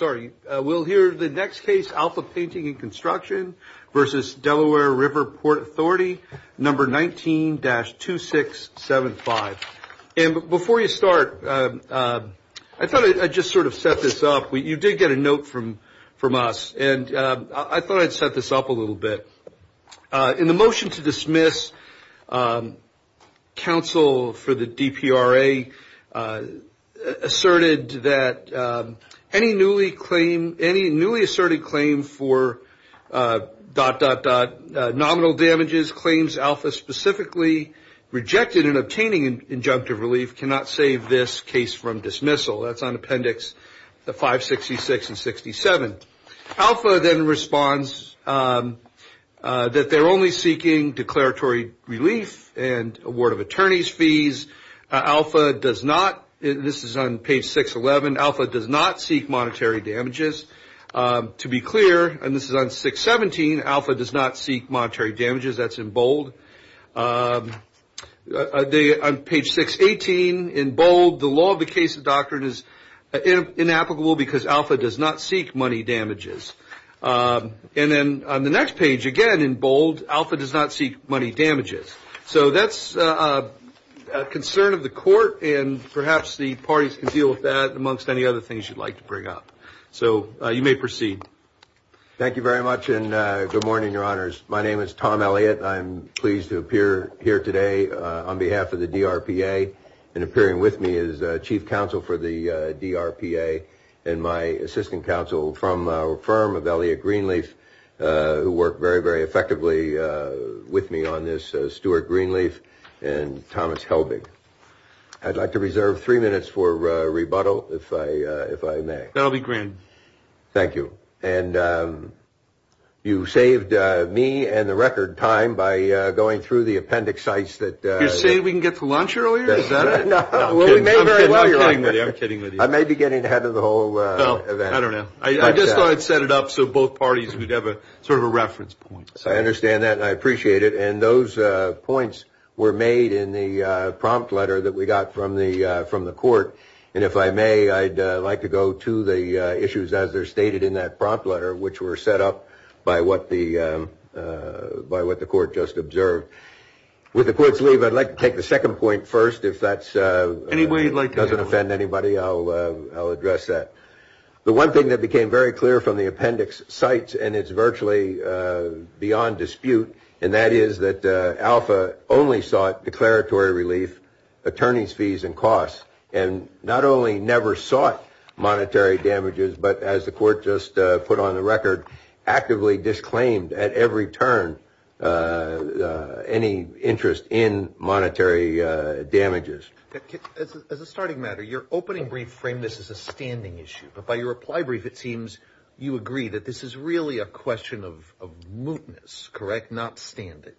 Number 19-2675. And before you start, I thought I'd just sort of set this up. You did get a note from from us, and I thought I'd set this up a little bit. In the motion to dismiss counsel for the DPRA asserted that any newly appointed members of the DPRA should not be allowed to participate in the DPRA. Any newly asserted claim for dot, dot, dot, nominal damages claims ALPHA specifically rejected in obtaining injunctive relief cannot save this case from dismissal. That's on Appendix 566 and 67. Alpha then responds that they're only seeking declaratory relief and award of attorney's fees. Alpha does not, this is on page 611, Alpha does not seek monetary damages. To be clear, and this is on 617, Alpha does not seek monetary damages. That's in bold. On page 618, in bold, the law of the case of doctrine is inapplicable because Alpha does not seek money damages. And then on the next page, again in bold, Alpha does not seek money damages. So that's a concern of the court, and perhaps the parties can deal with that amongst any other things you'd like to bring up. So you may proceed. Thank you very much, and good morning, your honors. My name is Tom Elliott. I'm pleased to appear here today on behalf of the DRPA, and appearing with me is Chief Counsel for the DRPA and my assistant counsel from our firm of Elliott Greenleaf, who worked very, very effectively with me on this, Stuart Greenleaf and Thomas Helbig. I'd like to reserve three minutes for rebuttal, if I may. That'll be grand. Thank you. And you saved me and the record time by going through the appendix sites that... You're saying we can get to lunch earlier? Is that it? I'm kidding. I'm kidding with you. I may be getting ahead of the whole event. I don't know. I just thought I'd set it up so both parties would have sort of a reference point. I understand that, and I appreciate it. And those points were made in the prompt letter that we got from the court. And if I may, I'd like to go to the issues as they're stated in that prompt letter, which were set up by what the court just observed. With the court's leave, I'd like to take the second point first. If that doesn't offend anybody, I'll address that. The one thing that became very clear from the appendix sites, and it's virtually beyond dispute, and that is that Alpha only sought declaratory relief, attorney's fees and costs, and not only never sought monetary damages, but as the court just put on the record, actively disclaimed at every turn any interest in monetary damages. As a starting matter, your opening brief framed this as a standing issue. But by your reply brief, it seems you agree that this is really a question of mootness, correct, not standing.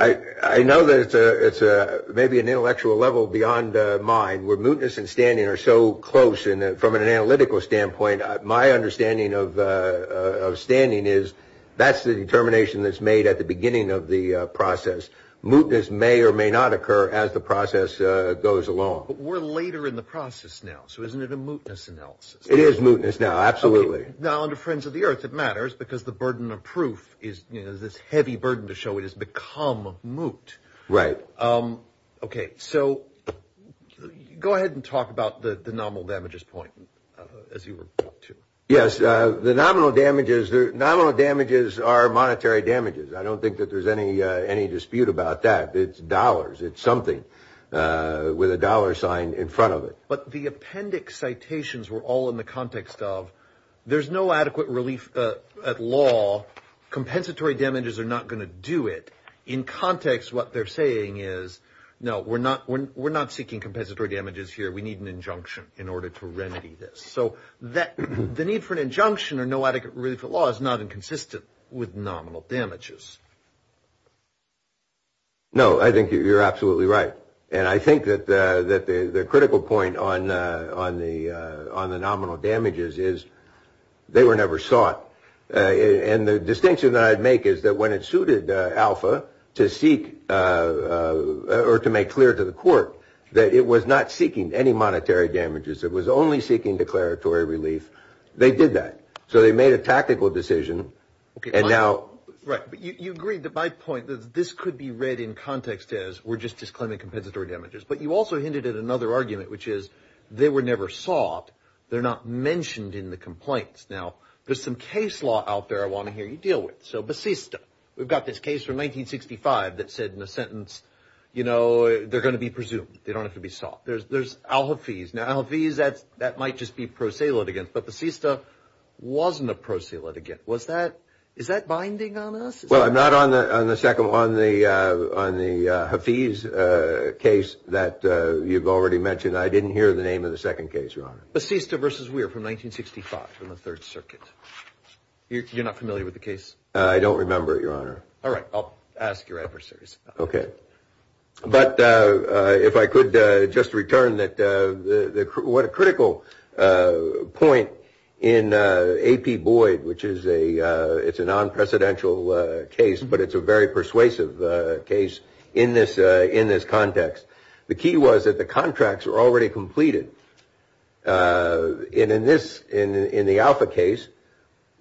I know that it's maybe an intellectual level beyond mine where mootness and standing are so close from an analytical standpoint. My understanding of standing is that's the determination that's made at the beginning of the process. Mootness may or may not occur as the process goes along. But we're later in the process now, so isn't it a mootness analysis? It is mootness now, absolutely. Now, under Friends of the Earth, it matters because the burden of proof is this heavy burden to show it has become moot. Right. Okay, so go ahead and talk about the nominal damages point, as you were pointing to. Yes, the nominal damages are monetary damages. I don't think that there's any dispute about that. It's dollars. It's something with a dollar sign in front of it. But the appendix citations were all in the context of there's no adequate relief at law, compensatory damages are not going to do it. In context, what they're saying is, no, we're not seeking compensatory damages here. We need an injunction in order to remedy this. So the need for an injunction or no adequate relief at law is not inconsistent with nominal damages. No, I think you're absolutely right. And I think that the critical point on the nominal damages is they were never sought. And the distinction that I'd make is that when it suited Alpha to seek or to make clear to the court that it was not seeking any monetary damages. It was only seeking declaratory relief. They did that. So they made a tactical decision. And now you agreed to my point that this could be read in context as we're just disclaiming compensatory damages. But you also hinted at another argument, which is they were never sought. They're not mentioned in the complaints. Now, there's some case law out there I want to hear you deal with. So Basista, we've got this case from 1965 that said in a sentence, you know, they're going to be presumed. They don't have to be sought. There's there's Alpha fees now fees. That's that might just be pro se litigant. But Basista wasn't a pro se litigant. Was that is that binding on us? Well, I'm not on the on the second one, the on the fees case that you've already mentioned. I didn't hear the name of the second case. You're on Basista versus Weir from 1965 in the Third Circuit. You're not familiar with the case. I don't remember it, Your Honor. All right. I'll ask your officers. OK, but if I could just return that. What a critical point in AP Boyd, which is a it's a non-presidential case, but it's a very persuasive case in this in this context. The key was that the contracts were already completed in this in the Alpha case.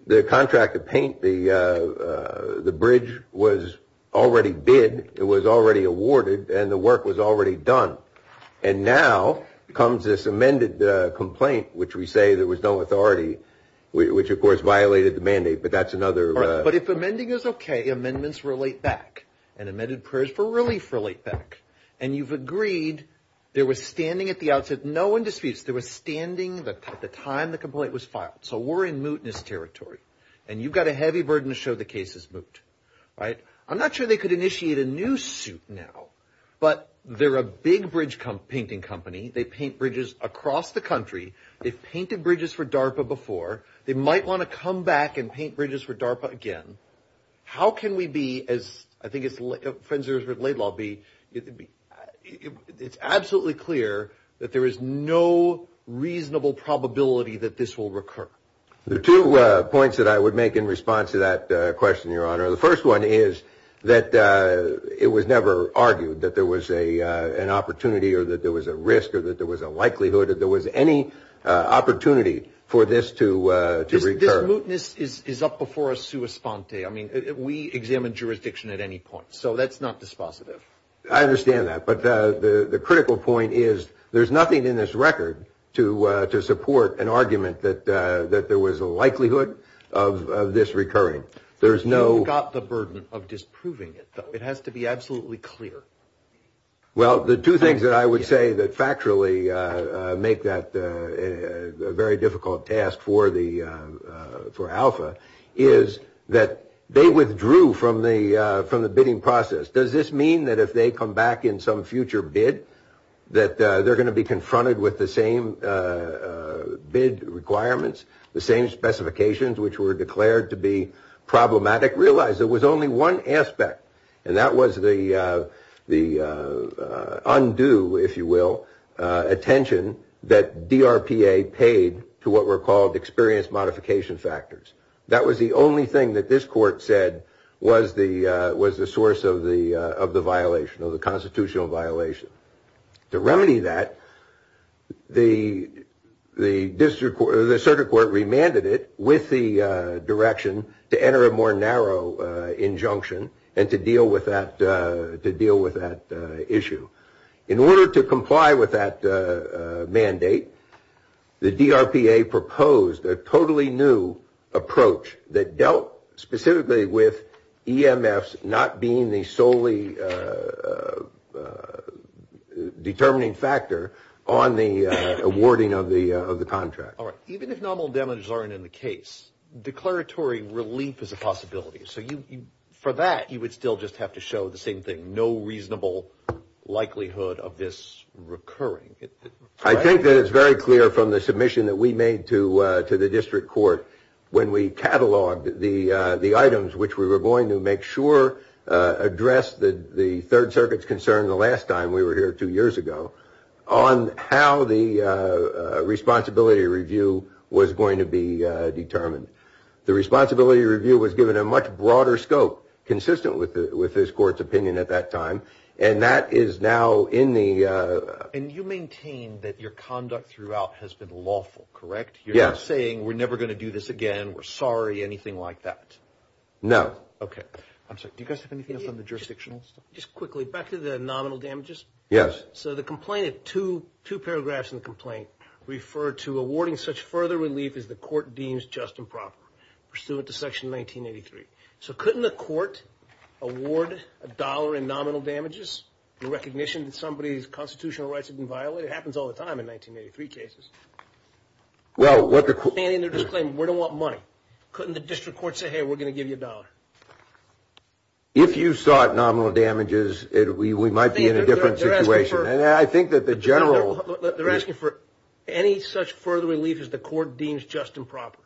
The contract to paint the the bridge was already bid. It was already awarded and the work was already done. And now comes this amended complaint, which we say there was no authority, which, of course, violated the mandate. But that's another. But if amending is OK, amendments relate back and amended prayers for relief relate back. And you've agreed there was standing at the outset. No one disputes. There was standing at the time the complaint was filed. So we're in mootness territory and you've got a heavy burden to show the case is moot. Right. I'm not sure they could initiate a new suit now, but they're a big bridge painting company. They paint bridges across the country. They've painted bridges for DARPA before. They might want to come back and paint bridges for DARPA again. How can we be as I think it's friends or as late lobby? It's absolutely clear that there is no reasonable probability that this will recur. The two points that I would make in response to that question, Your Honor. The first one is that it was never argued that there was a an opportunity or that there was a risk or that there was a likelihood that there was any opportunity for this to to recur. So mootness is up before us. I mean, we examine jurisdiction at any point. So that's not dispositive. I understand that. But the critical point is there's nothing in this record to to support an argument that that there was a likelihood of this recurring. There's no got the burden of disproving it. It has to be absolutely clear. Well, the two things that I would say that factually make that a very difficult task for the for Alpha is that they withdrew from the from the bidding process. Does this mean that if they come back in some future bid that they're going to be confronted with the same bid requirements, the same specifications which were declared to be problematic? Realize there was only one aspect and that was the the undue, if you will, attention that D.R.P.A. paid to what were called experience modification factors. That was the only thing that this court said was the was the source of the of the violation of the constitutional violation. To remedy that, the the district or the circuit court remanded it with the direction to enter a more narrow injunction and to deal with that, to deal with that issue. In order to comply with that mandate, the D.R.P.A. proposed a totally new approach that dealt specifically with E.M.S. not being the solely determining factor on the awarding of the of the contract. All right. Even if normal damage aren't in the case, declaratory relief is a possibility. So you for that, you would still just have to show the same thing. No reasonable likelihood of this recurring. I think that it's very clear from the submission that we made to to the district court. When we cataloged the the items which we were going to make sure address the the Third Circuit's concern the last time we were here two years ago on how the responsibility review was going to be determined. The responsibility review was given a much broader scope consistent with with this court's opinion at that time. And that is now in the and you maintain that your conduct throughout has been lawful. Correct. Yes. Saying we're never going to do this again. We're sorry. Anything like that. No. OK. I'm sorry. Do you guys have anything from the jurisdictional. Just quickly back to the nominal damages. Yes. So the complainant to two paragraphs in the complaint referred to awarding such further relief as the court deems just and proper pursuant to Section 1983. So couldn't the court award a dollar in nominal damages in recognition that somebody's constitutional rights have been violated. It happens all the time in 1983 cases. Well what they're saying they're just saying we don't want money. Couldn't the district court say hey we're going to give you a dollar if you sought nominal damages. We might be in a different situation. And I think that the general they're asking for any such further relief as the court deems just and proper.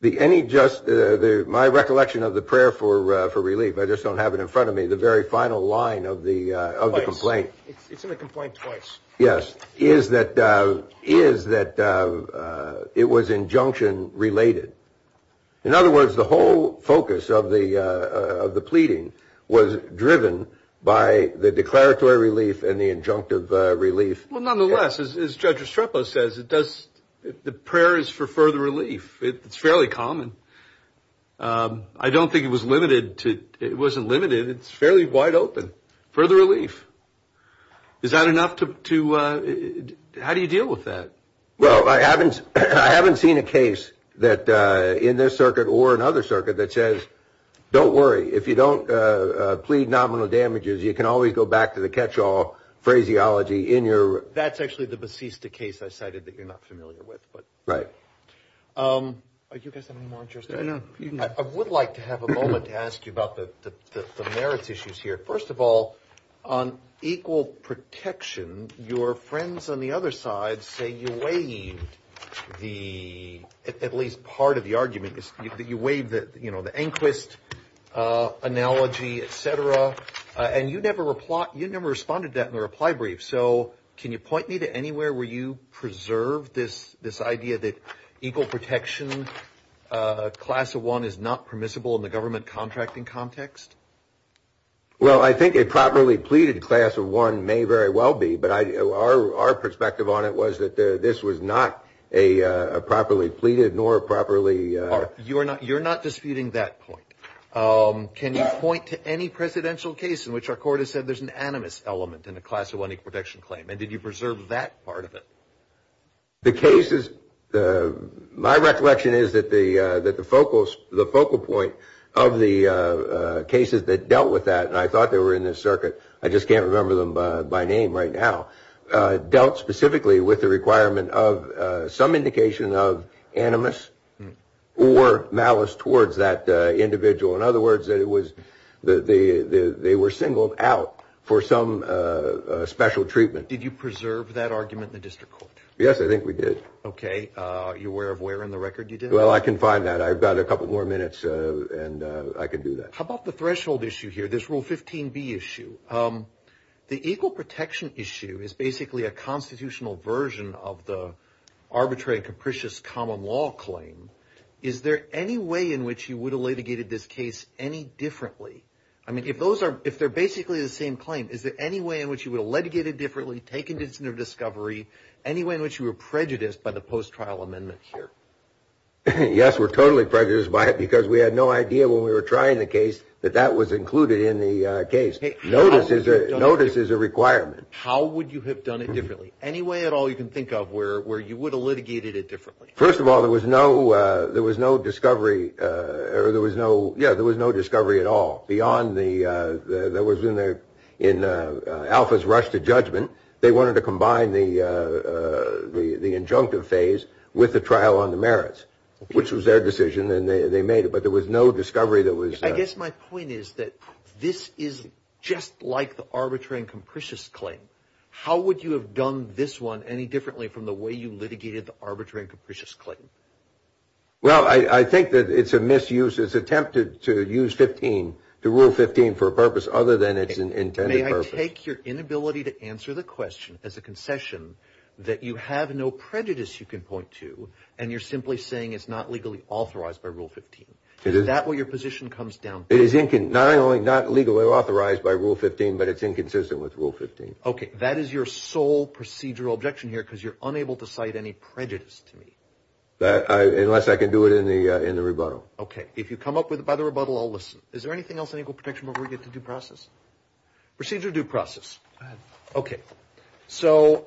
The any just my recollection of the prayer for relief. I just don't have it in front of me the very final line of the of the complaint. It's in the complaint twice. Yes. Is that is that it was injunction related. In other words the whole focus of the of the pleading was driven by the declaratory relief and the injunctive relief. Nonetheless as Judge Estrepo says it does. The prayer is for further relief. It's fairly common. I don't think it was limited to it wasn't limited. It's fairly wide open for the relief. Is that enough to. How do you deal with that. Well I haven't I haven't seen a case that in this circuit or another circuit that says don't worry if you don't plead nominal damages you can always go back to the catch all phraseology in your. That's actually the besiesta case I cited that you're not familiar with. But right. Are you guys more interested in. I would like to have a moment to ask you about the merits issues here. First of all on equal protection your friends on the other side say you weigh the at least part of the argument is that you waive that you know the inquest analogy etc. And you never reply. You never responded that in the reply brief. So can you point me to anywhere where you preserve this this idea that equal protection class of one is not permissible in the government contracting context. Well I think a properly pleaded class of one may very well be. But our perspective on it was that this was not a properly pleaded nor properly. You are not you're not disputing that point. Can you point to any presidential case in which our court has said there's an animus element in the class of one equal protection claim. And did you preserve that part of it. The case is my recollection is that the that the focus the focal point of the cases that dealt with that. And I thought they were in this circuit. I just can't remember them by name right now dealt specifically with the requirement of some indication of animus or malice towards that individual. In other words it was the they were singled out for some special treatment. Did you preserve that argument in the district court. Yes I think we did. OK. You're aware of where in the record you did. Well I can find that. I've got a couple more minutes and I can do that. How about the threshold issue here. This rule 15 B issue. The equal protection issue is basically a constitutional version of the arbitrary capricious common law claim. Is there any way in which you would have litigated this case any differently. I mean if those are if they're basically the same claim. Is there any way in which you would have litigated differently taken this into discovery anyway in which you were prejudiced by the post trial amendment here. Yes we're totally prejudiced by it because we had no idea when we were trying the case that that was included in the case. Notice is a notice is a requirement. How would you have done it differently. Any way at all you can think of where where you would have litigated it differently. First of all there was no there was no discovery or there was no. Yeah there was no discovery at all beyond the that was in there in Alfa's rush to judgment. They wanted to combine the the injunctive phase with the trial on the merits which was their decision and they made it. But there was no discovery that was I guess my point is that this is just like the arbitrary and capricious claim. How would you have done this one any differently from the way you litigated the arbitrary and capricious claim. Well I think that it's a misuse it's attempted to use 15 to rule 15 for a purpose other than it's intended. May I take your inability to answer the question as a concession that you have no prejudice you can point to and you're simply saying it's not legally authorized by Rule 15. Is that where your position comes down. It is not only not legally authorized by Rule 15 but it's inconsistent with Rule 15. OK that is your sole procedural objection here because you're unable to cite any prejudice to me that unless I can do it in the in the rebuttal. OK if you come up with it by the rebuttal I'll listen. Is there anything else in equal protection where we get to due process procedure due process. OK so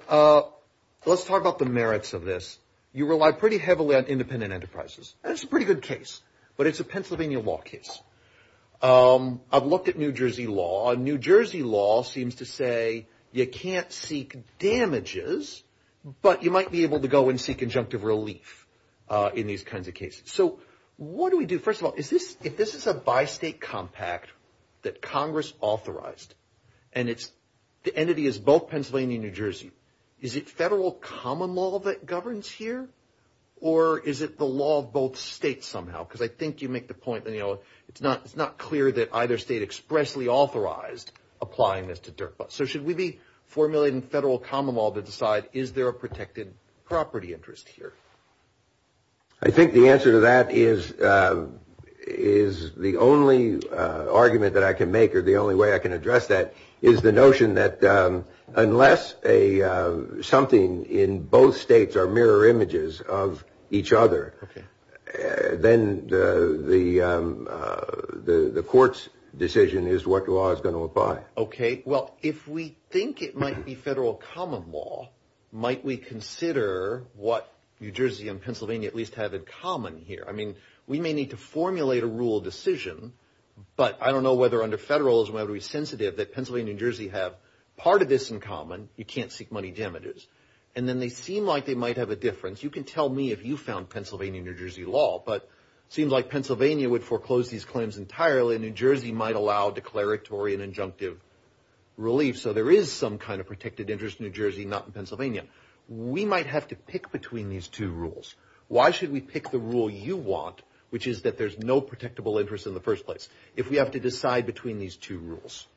let's talk about the merits of this. You rely pretty heavily on independent enterprises. It's a pretty good case but it's a Pennsylvania law case. I've looked at New Jersey law. New Jersey law seems to say you can't seek damages but you might be able to go and seek injunctive relief in these kinds of cases. So what do we do. First of all is this if this is a by state compact that Congress authorized and it's the entity is both Pennsylvania New Jersey. Is it federal common law that governs here or is it the law of both states somehow. Because I think you make the point that you know it's not it's not clear that either state expressly authorized applying this to DERPA. So should we be formulating federal common law to decide is there a protected property interest here. I think the answer to that is is the only argument that I can make or the only way I can address that is the notion that unless a something in both states are mirror images of each other. Then the the the court's decision is what law is going to apply. OK well if we think it might be federal common law might we consider what New Jersey and Pennsylvania at least have in common here. I mean we may need to formulate a rule decision but I don't know whether under federalism I would be sensitive that Pennsylvania New Jersey have part of this in common. You can't seek money damages and then they seem like they might have a difference. You can tell me if you found Pennsylvania New Jersey law but seems like Pennsylvania would foreclose these claims entirely. New Jersey might allow declaratory and injunctive relief. So there is some kind of protected interest New Jersey not Pennsylvania. We might have to pick between these two rules. Why should we pick the rule you want which is that there's no protectable interest in the first place. If we have to decide between these two rules.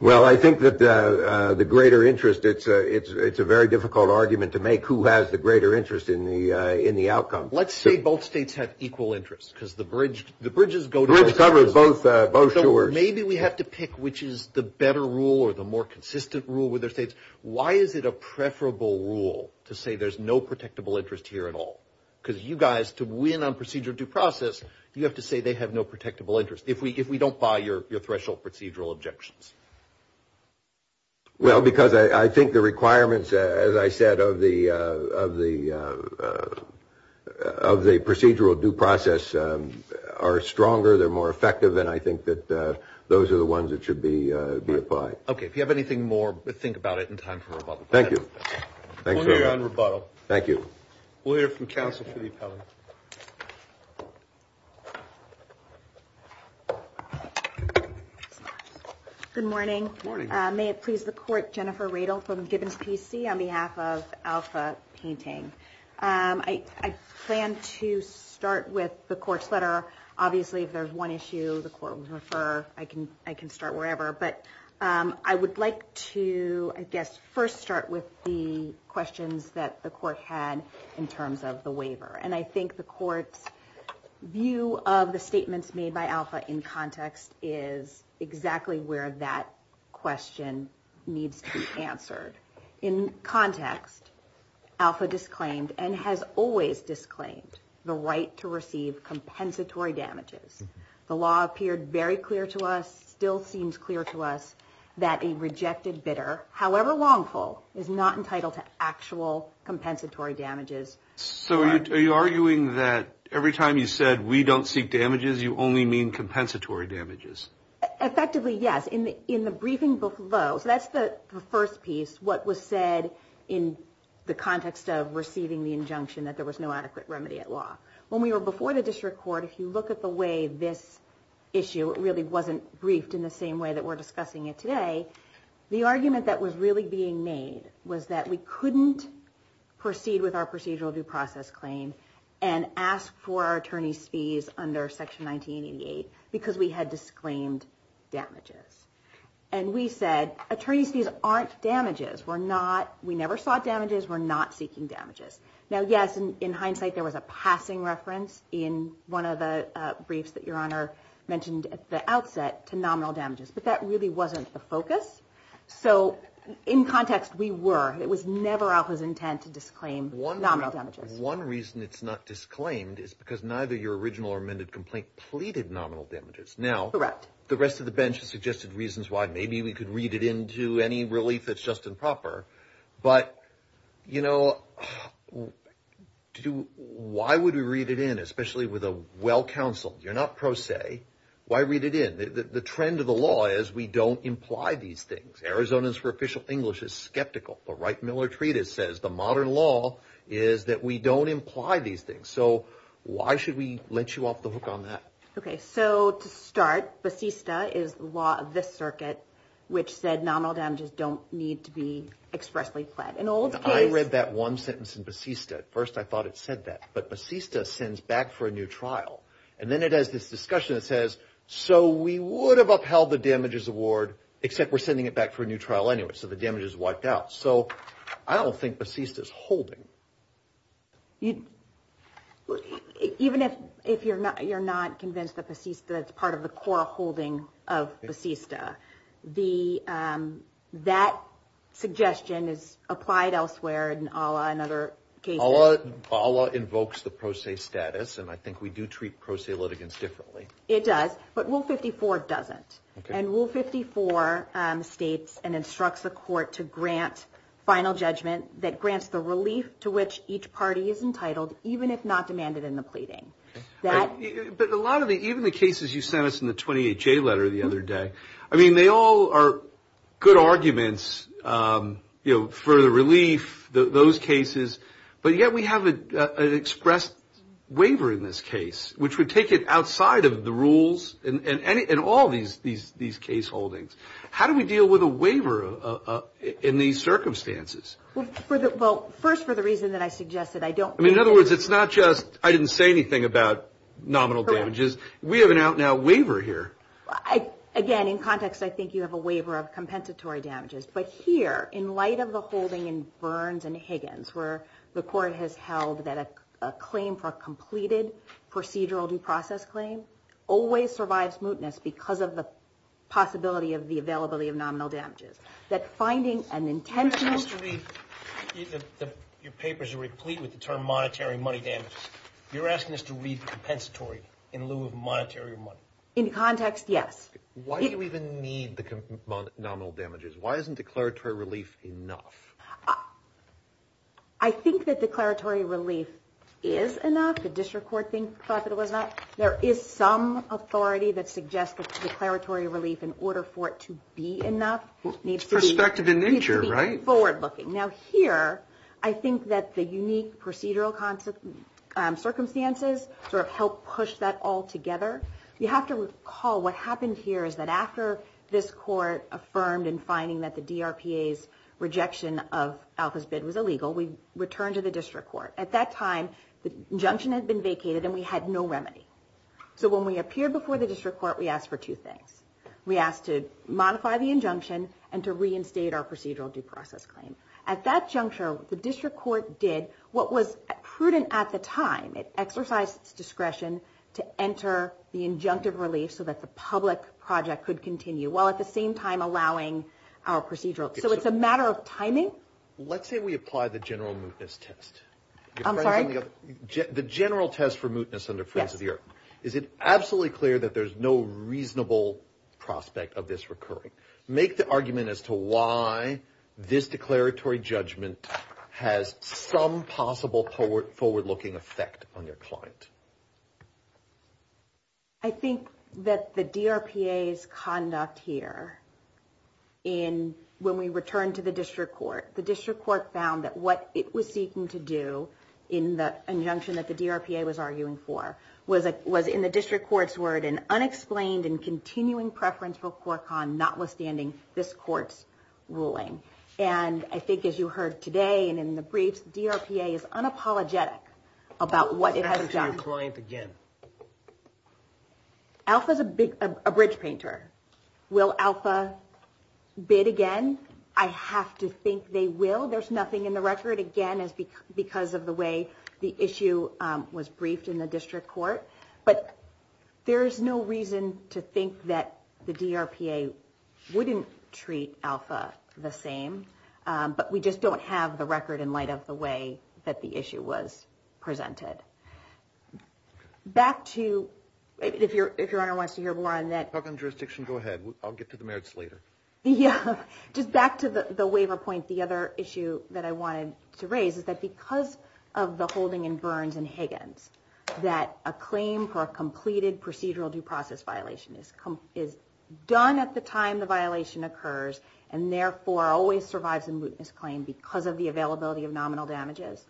Well I think that the greater interest it's it's it's a very difficult argument to make who has the greater interest in the in the outcome. Let's say both states have equal interest because the bridge the bridges go to cover both. Maybe we have to pick which is the better rule or the more consistent rule with their states. Why is it a preferable rule to say there's no protectable interest here at all. Because you guys to win on procedure due process you have to say they have no protectable interest. If we if we don't buy your threshold procedural objections. Well because I think the requirements as I said of the of the of the procedural due process are stronger. They're more effective and I think that those are the ones that should be applied. OK if you have anything more but think about it in time for rebuttal. Thank you. Thank you. Thank you. We'll hear from counsel for the appellate. Good morning. Morning. May it please the court. Jennifer Radel from Gibbons PC on behalf of Alpha Painting. I plan to start with the court's letter. Obviously if there's one issue the court would refer. I can I can start wherever. But I would like to I guess first start with the questions that the court had in terms of the waiver. And I think the court's view of the statements made by Alpha in context is exactly where that question needs to be answered. In context Alpha disclaimed and has always disclaimed the right to receive compensatory damages. The law appeared very clear to us still seems clear to us that a rejected bidder however wrongful is not entitled to actual compensatory damages. So are you arguing that every time you said we don't seek damages you only mean compensatory damages. Effectively yes. In the in the briefing below. So that's the first piece. What was said in the context of receiving the injunction that there was no adequate remedy at law. When we were before the district court if you look at the way this issue really wasn't briefed in the same way that we're discussing it today. The argument that was really being made was that we couldn't proceed with our procedural due process claim. And ask for our attorney's fees under Section 1988 because we had disclaimed damages. And we said attorney's fees aren't damages. We're not we never sought damages we're not seeking damages. Now yes in hindsight there was a passing reference in one of the briefs that your honor mentioned at the outset to nominal damages. But that really wasn't the focus. So in context we were it was never Alpha's intent to disclaim one nominal damages. One reason it's not disclaimed is because neither your original or amended complaint pleaded nominal damages. Now the rest of the bench has suggested reasons why maybe we could read it into any relief that's just improper. But you know why would we read it in especially with a well counsel you're not pro se. Why read it in the trend of the law is we don't imply these things. Arizona's for official English is skeptical. But right Miller treatise says the modern law is that we don't imply these things. So why should we let you off the hook on that. OK. So to start. Basista is the law of this circuit which said nominal damages don't need to be expressly fled. An old I read that one sentence in Basista. First I thought it said that. But Basista sends back for a new trial. And then it has this discussion that says so we would have upheld the damages award except we're sending it back for a new trial anyway. So the damage is wiped out. So I don't think Basista is holding. You even if if you're not you're not convinced that Basista is part of the core holding of Basista. The that suggestion is applied elsewhere. And Allah and other Allah Allah invokes the pro se status. And I think we do treat pro se litigants differently. It does. But Rule 54 doesn't. And Rule 54 states and instructs the court to grant final judgment that grants the relief to which each party is entitled even if not demanded in the pleading. But a lot of it even the cases you sent us in the 28 J letter the other day. I mean they all are good arguments for the relief those cases. But yet we have an express waiver in this case which would take it outside of the rules and all these these these case holdings. How do we deal with a waiver in these circumstances. Well first for the reason that I suggested I don't mean in other words it's not just I didn't say anything about nominal damages. We have an out now waiver here. I again in context I think you have a waiver of compensatory damages. But here in light of the holding in Burns and Higgins where the court has held that a claim for a completed procedural due process claim always survives mootness because of the possibility of the availability of nominal damages. That finding an intention to read your papers are replete with the term monetary money damage. You're asking us to read compensatory in lieu of monetary money in context. Yes. Why do you even need the nominal damages. Why is declaratory relief enough. I think that declaratory relief is enough. The district court thing thought that it was not. There is some authority that suggested declaratory relief in order for it to be enough. It's perspective in nature right. Forward looking now here. I think that the unique procedural concept circumstances sort of help push that all together. You have to recall what happened here is that after this court affirmed in finding that the D.R.P.A.'s rejection of Alfa's bid was illegal. We returned to the district court at that time. The junction had been vacated and we had no remedy. So when we appeared before the district court we asked for two things. We asked to modify the injunction and to reinstate our procedural due process claim at that juncture. The district court did what was prudent at the time. It exercised its discretion to enter the injunctive relief so that the public project could continue while at the same time allowing our procedural. So it's a matter of timing. Let's say we apply the general test. I'm sorry. The general test for mootness under France of the Earth. Is it absolutely clear that there's no reasonable prospect of this recurring. Make the argument as to why this declaratory judgment has some possible forward looking effect on your client. I think that the D.R.P.A.'s conduct here in when we returned to the district court. The district court found that what it was seeking to do in the injunction that the D.R.P.A. was arguing for. Was it was in the district court's word and unexplained and continuing preference for quirk on notwithstanding this court's ruling. And I think as you heard today and in the briefs D.R.P.A. is unapologetic about what it has done. Alpha is a bridge painter. Will Alpha bid again. I have to think they will. There's nothing in the record again is because of the way the issue was briefed in the district court. But there is no reason to think that the D.R.P.A. wouldn't treat Alpha the same. But we just don't have the record in light of the way that the issue was presented. Back to if you're if your honor wants to hear more on that. Jurisdiction go ahead. I'll get to the merits later. Yeah. Just back to the waiver point. The other issue that I wanted to raise is that because of the holding in Burns and Higgins that a claim for a completed procedural due process violation is is done at the time. The violation occurs and therefore always survives a misclaim because of the availability of nominal damages.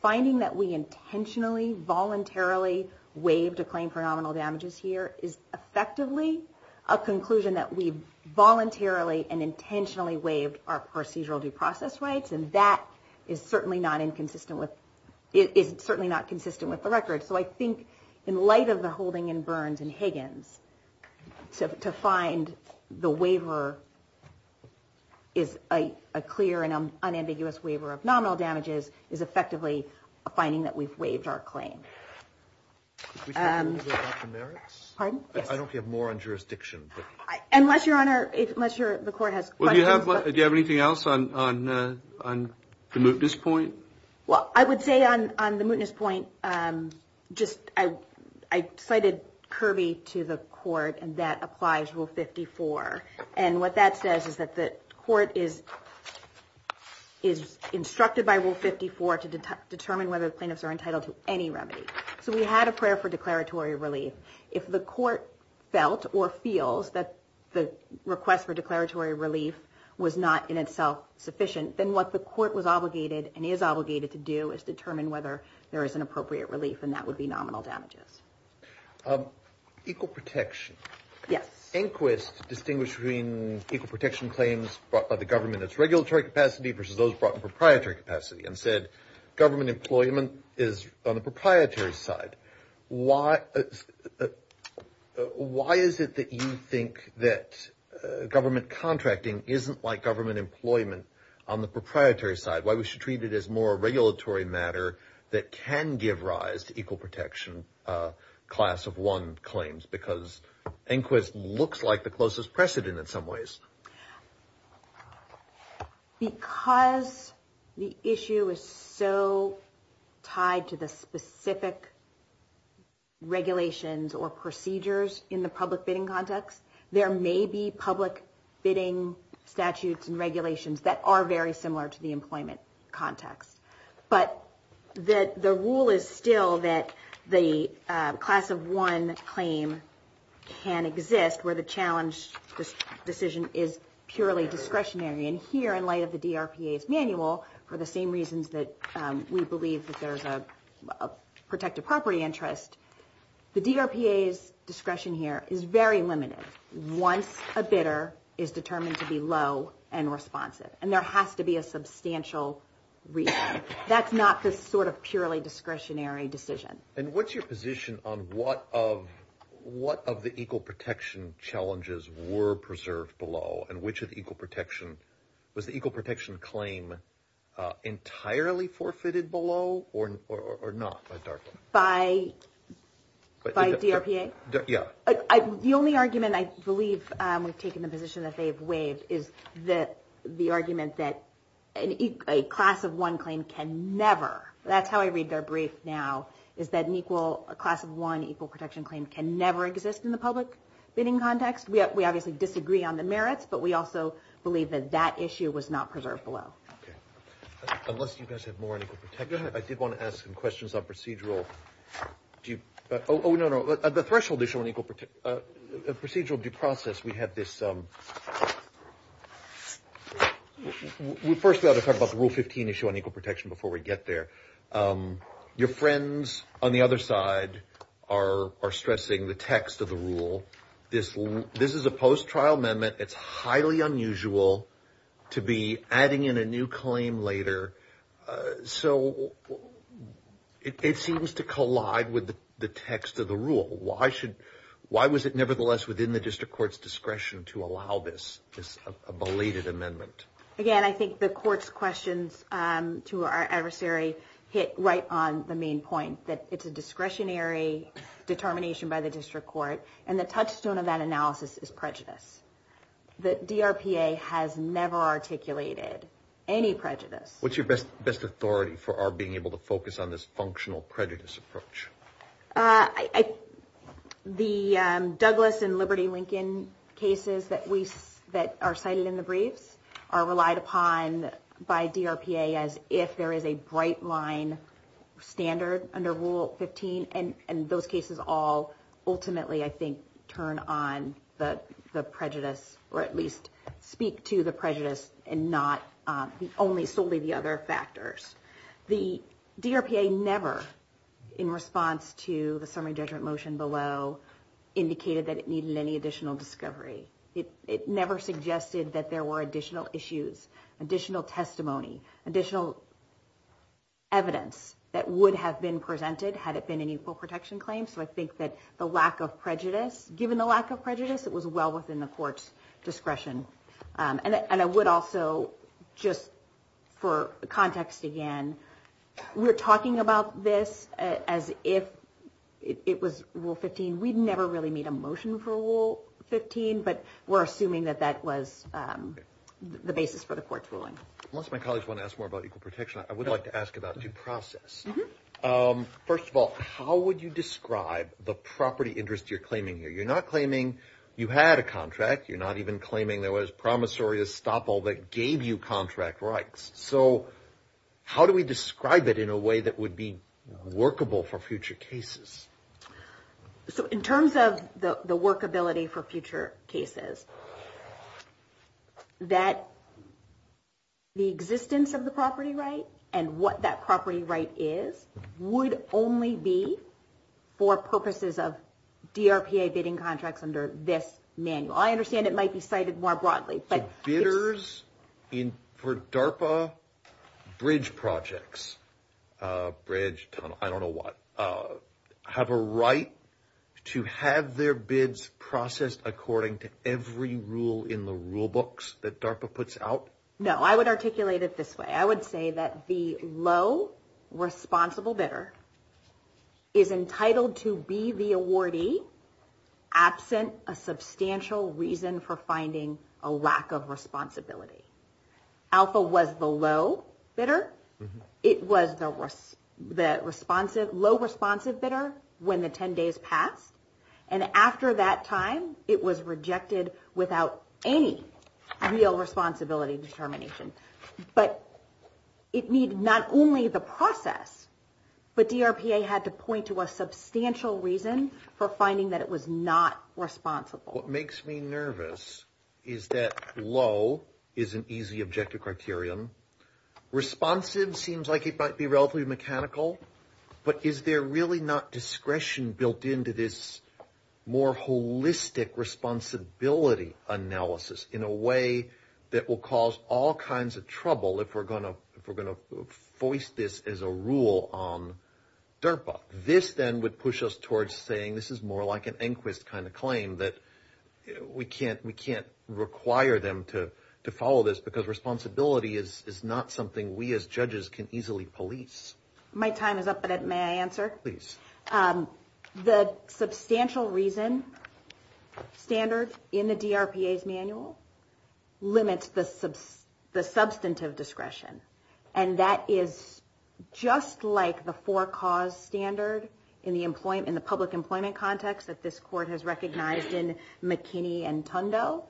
Finding that we intentionally voluntarily waived a claim for nominal damages here is effectively a conclusion that we voluntarily and intentionally waived our procedural due process rights. And that is certainly not inconsistent with it is certainly not consistent with the record. So I think in light of the holding in Burns and Higgins. So to find the waiver is a clear and unambiguous waiver of nominal damages is effectively a finding that we've waived our claim. I don't have more on jurisdiction. Unless your honor unless you're the court has. Do you have anything else on the mootness point? Well I would say on the mootness point just I cited Kirby to the court and that applies rule 54. And what that says is that the court is is instructed by rule 54 to determine whether the plaintiffs are entitled to any remedy. So we had a prayer for declaratory relief. If the court felt or feels that the request for declaratory relief was not in itself sufficient. Then what the court was obligated and is obligated to do is determine whether there is an appropriate relief and that would be nominal damages. Equal protection. Yes. Inquist distinguished between equal protection claims brought by the government that's regulatory capacity versus those brought in proprietary capacity and said government employment is on the proprietary side. Why is it that you think that government contracting isn't like government employment on the proprietary side. Why we should treat it as more regulatory matter that can give rise to equal protection class of one claims. Because inquest looks like the closest precedent in some ways. Because the issue is so tied to the specific regulations or procedures in the public bidding context. There may be public bidding statutes and regulations that are very similar to the employment context. But that the rule is still that the class of one claim can exist where the challenge. This decision is purely discretionary. And here in light of the D.R.P.A.'s manual for the same reasons that we believe that there's a protective property interest. The D.R.P.A.'s discretion here is very limited. Once a bidder is determined to be low and responsive. And there has to be a substantial reason. That's not the sort of purely discretionary decision. And what's your position on what of the equal protection challenges were preserved below? And which of the equal protection was the equal protection claim entirely forfeited below or not? By D.R.P.A.? Yeah. The only argument I believe we've taken the position that they've waived. Is that the argument that a class of one claim can never. That's how I read their brief now. Is that an equal class of one equal protection claim can never exist in the public bidding context. We obviously disagree on the merits. But we also believe that that issue was not preserved below. Unless you guys have more on equal protection. I did want to ask some questions on procedural. Oh, no, no. The threshold issue on equal procedural due process. We have this. We first got to talk about the Rule 15 issue on equal protection before we get there. Your friends on the other side are stressing the text of the rule. This is a post-trial amendment. It's highly unusual to be adding in a new claim later. So it seems to collide with the text of the rule. Why should. Why was it nevertheless within the district court's discretion to allow this? This belated amendment. Again, I think the court's questions to our adversary hit right on the main point. That it's a discretionary determination by the district court. And the touchstone of that analysis is prejudice. The D.R.P.A. has never articulated any prejudice. What's your best authority for our being able to focus on this functional prejudice approach? The Douglas and Liberty Lincoln cases that are cited in the briefs are relied upon by D.R.P.A. as if there is a bright line standard under Rule 15. And those cases all ultimately, I think, turn on the prejudice. Or at least speak to the prejudice and not solely the other factors. The D.R.P.A. never, in response to the summary judgment motion below, indicated that it needed any additional discovery. It never suggested that there were additional issues, additional testimony, additional evidence that would have been presented had it been an equal protection claim. So I think that the lack of prejudice, given the lack of prejudice, it was well within the court's discretion. And I would also, just for context again, we're talking about this as if it was Rule 15. We never really made a motion for Rule 15, but we're assuming that that was the basis for the court's ruling. Unless my colleagues want to ask more about equal protection, I would like to ask about due process. First of all, how would you describe the property interest you're claiming here? You're not claiming you had a contract. You're not even claiming there was promissory estoppel that gave you contract rights. So how do we describe it in a way that would be workable for future cases? So in terms of the workability for future cases, that the existence of the property right and what that property right is would only be for purposes of DRPA bidding contracts under this manual. I understand it might be cited more broadly. But bidders for DARPA bridge projects, bridge, tunnel, I don't know what, have a right to have their bids processed according to every rule in the rule books that DARPA puts out? No, I would articulate it this way. I would say that the low responsible bidder is entitled to be the awardee absent a substantial reason for finding a lack of responsibility. Alpha was the low bidder. It was the low responsive bidder when the 10 days passed. And after that time, it was rejected without any real responsibility determination. But it needed not only the process, but DRPA had to point to a substantial reason for finding that it was not responsible. What makes me nervous is that low is an easy objective criterion. Responsive seems like it might be relatively mechanical. But is there really not discretion built into this more holistic responsibility analysis in a way that will cause all kinds of trouble if we're going to voice this as a rule on DRPA? This then would push us towards saying this is more like an inquest kind of claim that we can't require them to follow this because responsibility is not something we as judges can easily police. My time is up, but may I answer? Please. The substantial reason standard in the DRPA's manual limits the substantive discretion. And that is just like the four cause standard in the public employment context that this court has recognized in McKinney and Tundo.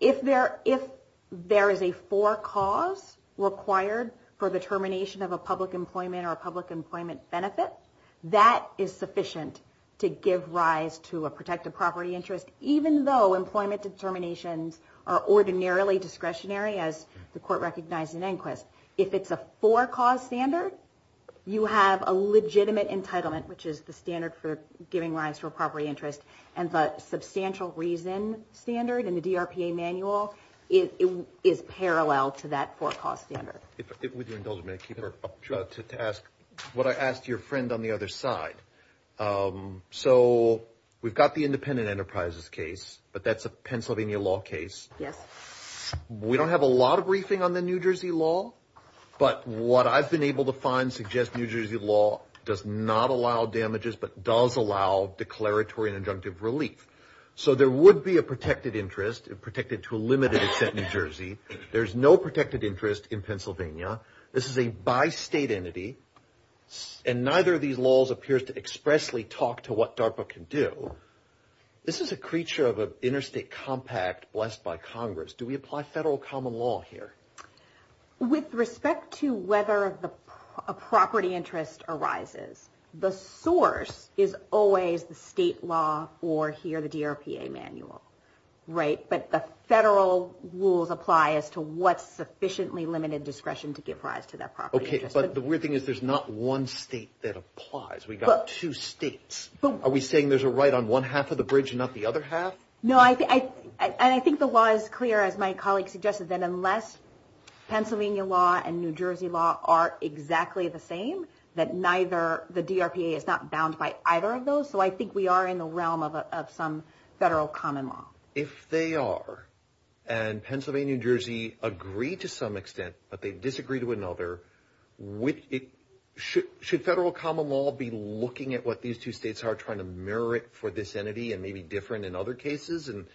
If there is a four cause required for the termination of a public employment or a public employment benefit, that is sufficient to give rise to a protected property interest, even though employment determinations are ordinarily discretionary as the court recognized in inquest. If it's a four cause standard, you have a legitimate entitlement, which is the standard for giving rise to a property interest, and the substantial reason standard in the DRPA manual is parallel to that four cause standard. If I could, with your indulgence, may I keep her up? Sure. To ask what I asked your friend on the other side. So we've got the independent enterprises case, but that's a Pennsylvania law case. Yes. We don't have a lot of briefing on the New Jersey law, but what I've been able to find suggests New Jersey law does not allow damages, but does allow declaratory and injunctive relief. So there would be a protected interest, protected to a limited extent in New Jersey. There's no protected interest in Pennsylvania. This is a bi-state entity, and neither of these laws appears to expressly talk to what DRPA can do. This is a creature of an interstate compact blessed by Congress. Do we apply federal common law here? With respect to whether a property interest arises, the source is always the state law or here the DRPA manual, right? But the federal rules apply as to what's sufficiently limited discretion to give rise to that property interest. Okay, but the weird thing is there's not one state that applies. We've got two states. Are we saying there's a right on one half of the bridge and not the other half? No, and I think the law is clear, as my colleague suggested, that unless Pennsylvania law and New Jersey law are exactly the same, that the DRPA is not bound by either of those. So I think we are in the realm of some federal common law. If they are, and Pennsylvania and New Jersey agree to some extent, but they disagree to another, should federal common law be looking at what these two states are, trying to mirror it for this entity and maybe different in other cases? And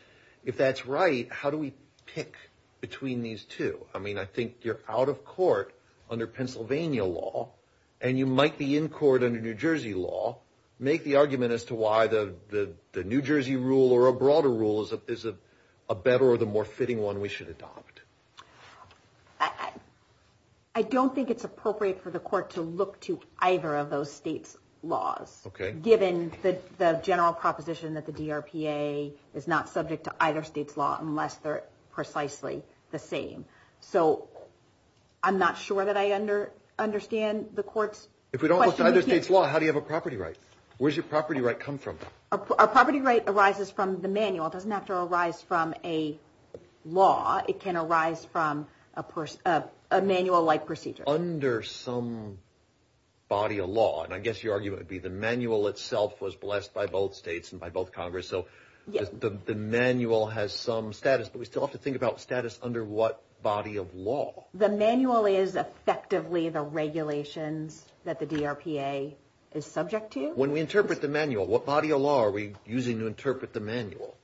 if that's right, how do we pick between these two? I mean, I think you're out of court under Pennsylvania law, and you might be in court under New Jersey law. Make the argument as to why the New Jersey rule or a broader rule is a better or the more fitting one we should adopt. I don't think it's appropriate for the court to look to either of those states' laws given the general proposition that the DRPA is not subject to either state's law unless they're precisely the same. So I'm not sure that I understand the court's question. If we don't look to either state's law, how do you have a property right? Where does your property right come from? A property right arises from the manual. It doesn't have to arise from a law. It can arise from a manual-like procedure. Under some body of law, and I guess your argument would be the manual itself was blessed by both states and by both Congress, so the manual has some status, but we still have to think about status under what body of law. The manual is effectively the regulations that the DRPA is subject to. When we interpret the manual, what body of law are we using to interpret the manual?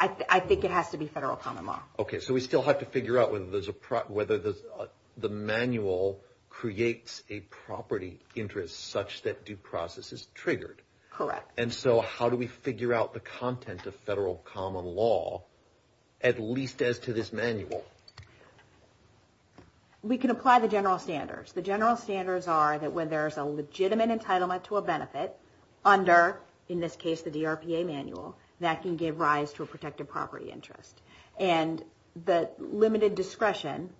I think it has to be federal common law. Okay, so we still have to figure out whether the manual creates a property interest such that due process is triggered. Correct. And so how do we figure out the content of federal common law, at least as to this manual? We can apply the general standards. The general standards are that when there's a legitimate entitlement to a benefit under, in this case, the DRPA manual, that can give rise to a protected property interest. And the limited discretion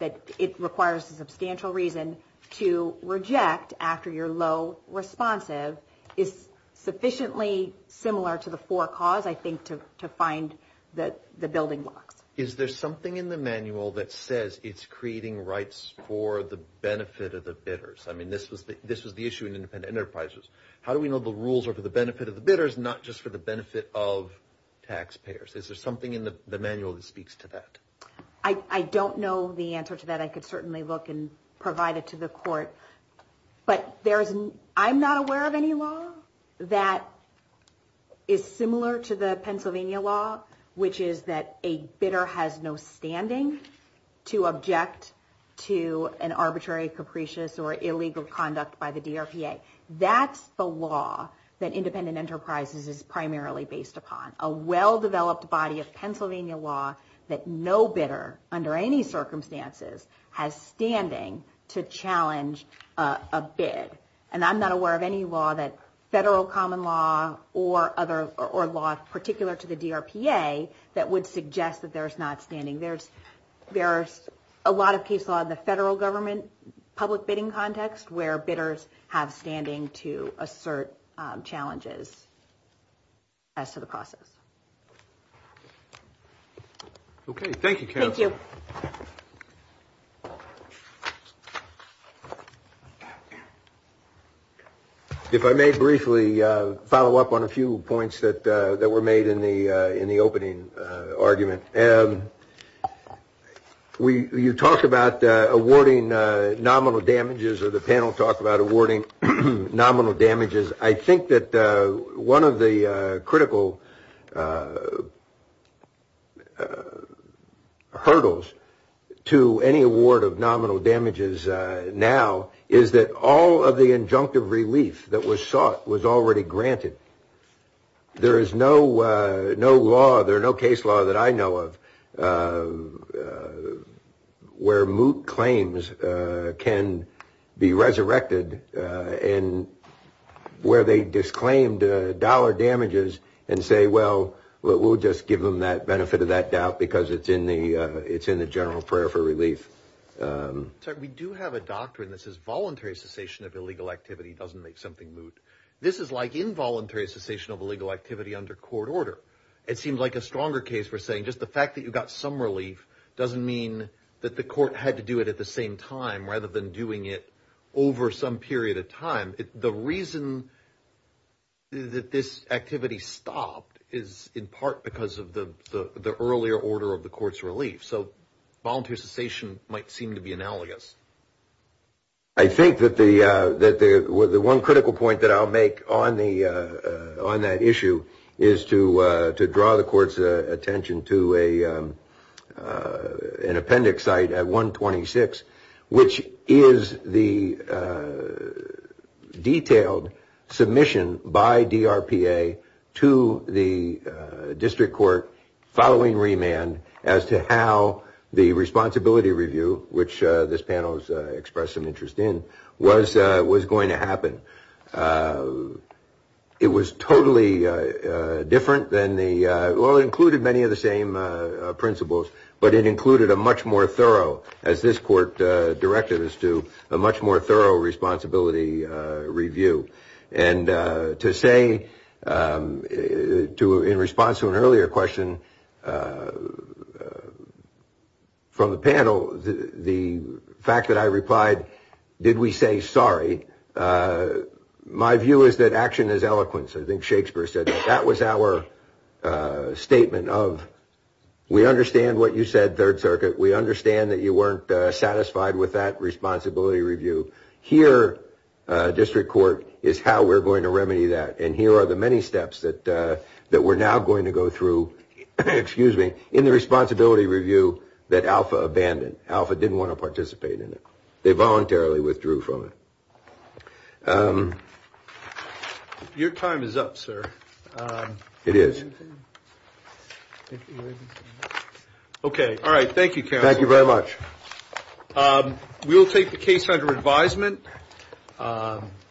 that it requires a substantial reason to reject after you're low responsive is sufficiently similar to the four cause, I think, to find the building blocks. Is there something in the manual that says it's creating rights for the benefit of the bidders? I mean, this was the issue in independent enterprises. How do we know the rules are for the benefit of the bidders, not just for the benefit of taxpayers? Is there something in the manual that speaks to that? I don't know the answer to that. I could certainly look and provide it to the court. But I'm not aware of any law that is similar to the Pennsylvania law, which is that a bidder has no standing to object to an arbitrary, capricious, or illegal conduct by the DRPA. That's the law that independent enterprises is primarily based upon, a well-developed body of Pennsylvania law that no bidder, under any circumstances, has standing to challenge a bid. And I'm not aware of any law that federal common law or law particular to the DRPA that would suggest that there's not standing. There's a lot of case law in the federal government public bidding context where bidders have standing to assert challenges as to the process. Okay, thank you, Carol. Thank you. If I may briefly follow up on a few points that were made in the opening argument. You talk about awarding nominal damages, or the panel talked about awarding nominal damages. I think that one of the critical hurdles to any award of nominal damages now is that all of the injunctive relief that was sought was already granted. There is no case law that I know of where moot claims can be resurrected and where they disclaimed dollar damages and say, well, we'll just give them that benefit of that doubt because it's in the general prayer for relief. We do have a doctrine that says voluntary cessation of illegal activity doesn't make something moot. This is like involuntary cessation of illegal activity under court order. It seems like a stronger case for saying just the fact that you got some relief doesn't mean that the court had to do it at the same time rather than doing it over some period of time. The reason that this activity stopped is in part because of the earlier order of the court's relief. So voluntary cessation might seem to be analogous. I think that the one critical point that I'll make on that issue is to draw the court's attention to an appendix site at 126, which is the detailed submission by DRPA to the district court following remand as to how the responsibility review, which this panel has expressed some interest in, was going to happen. It was totally different than the, well, it included many of the same principles, but it included a much more thorough, as this court directed us to, a much more thorough responsibility review. And to say, in response to an earlier question from the panel, the fact that I replied, did we say sorry, my view is that action is eloquence. I think Shakespeare said that. That was our statement of we understand what you said, Third Circuit. We understand that you weren't satisfied with that responsibility review. Here, district court, is how we're going to remedy that. And here are the many steps that we're now going to go through, excuse me, in the responsibility review that Alpha abandoned. Alpha didn't want to participate in it. They voluntarily withdrew from it. Your time is up, sir. It is. Okay, all right. Thank you, counsel. Thank you very much. We will take the case under advisement.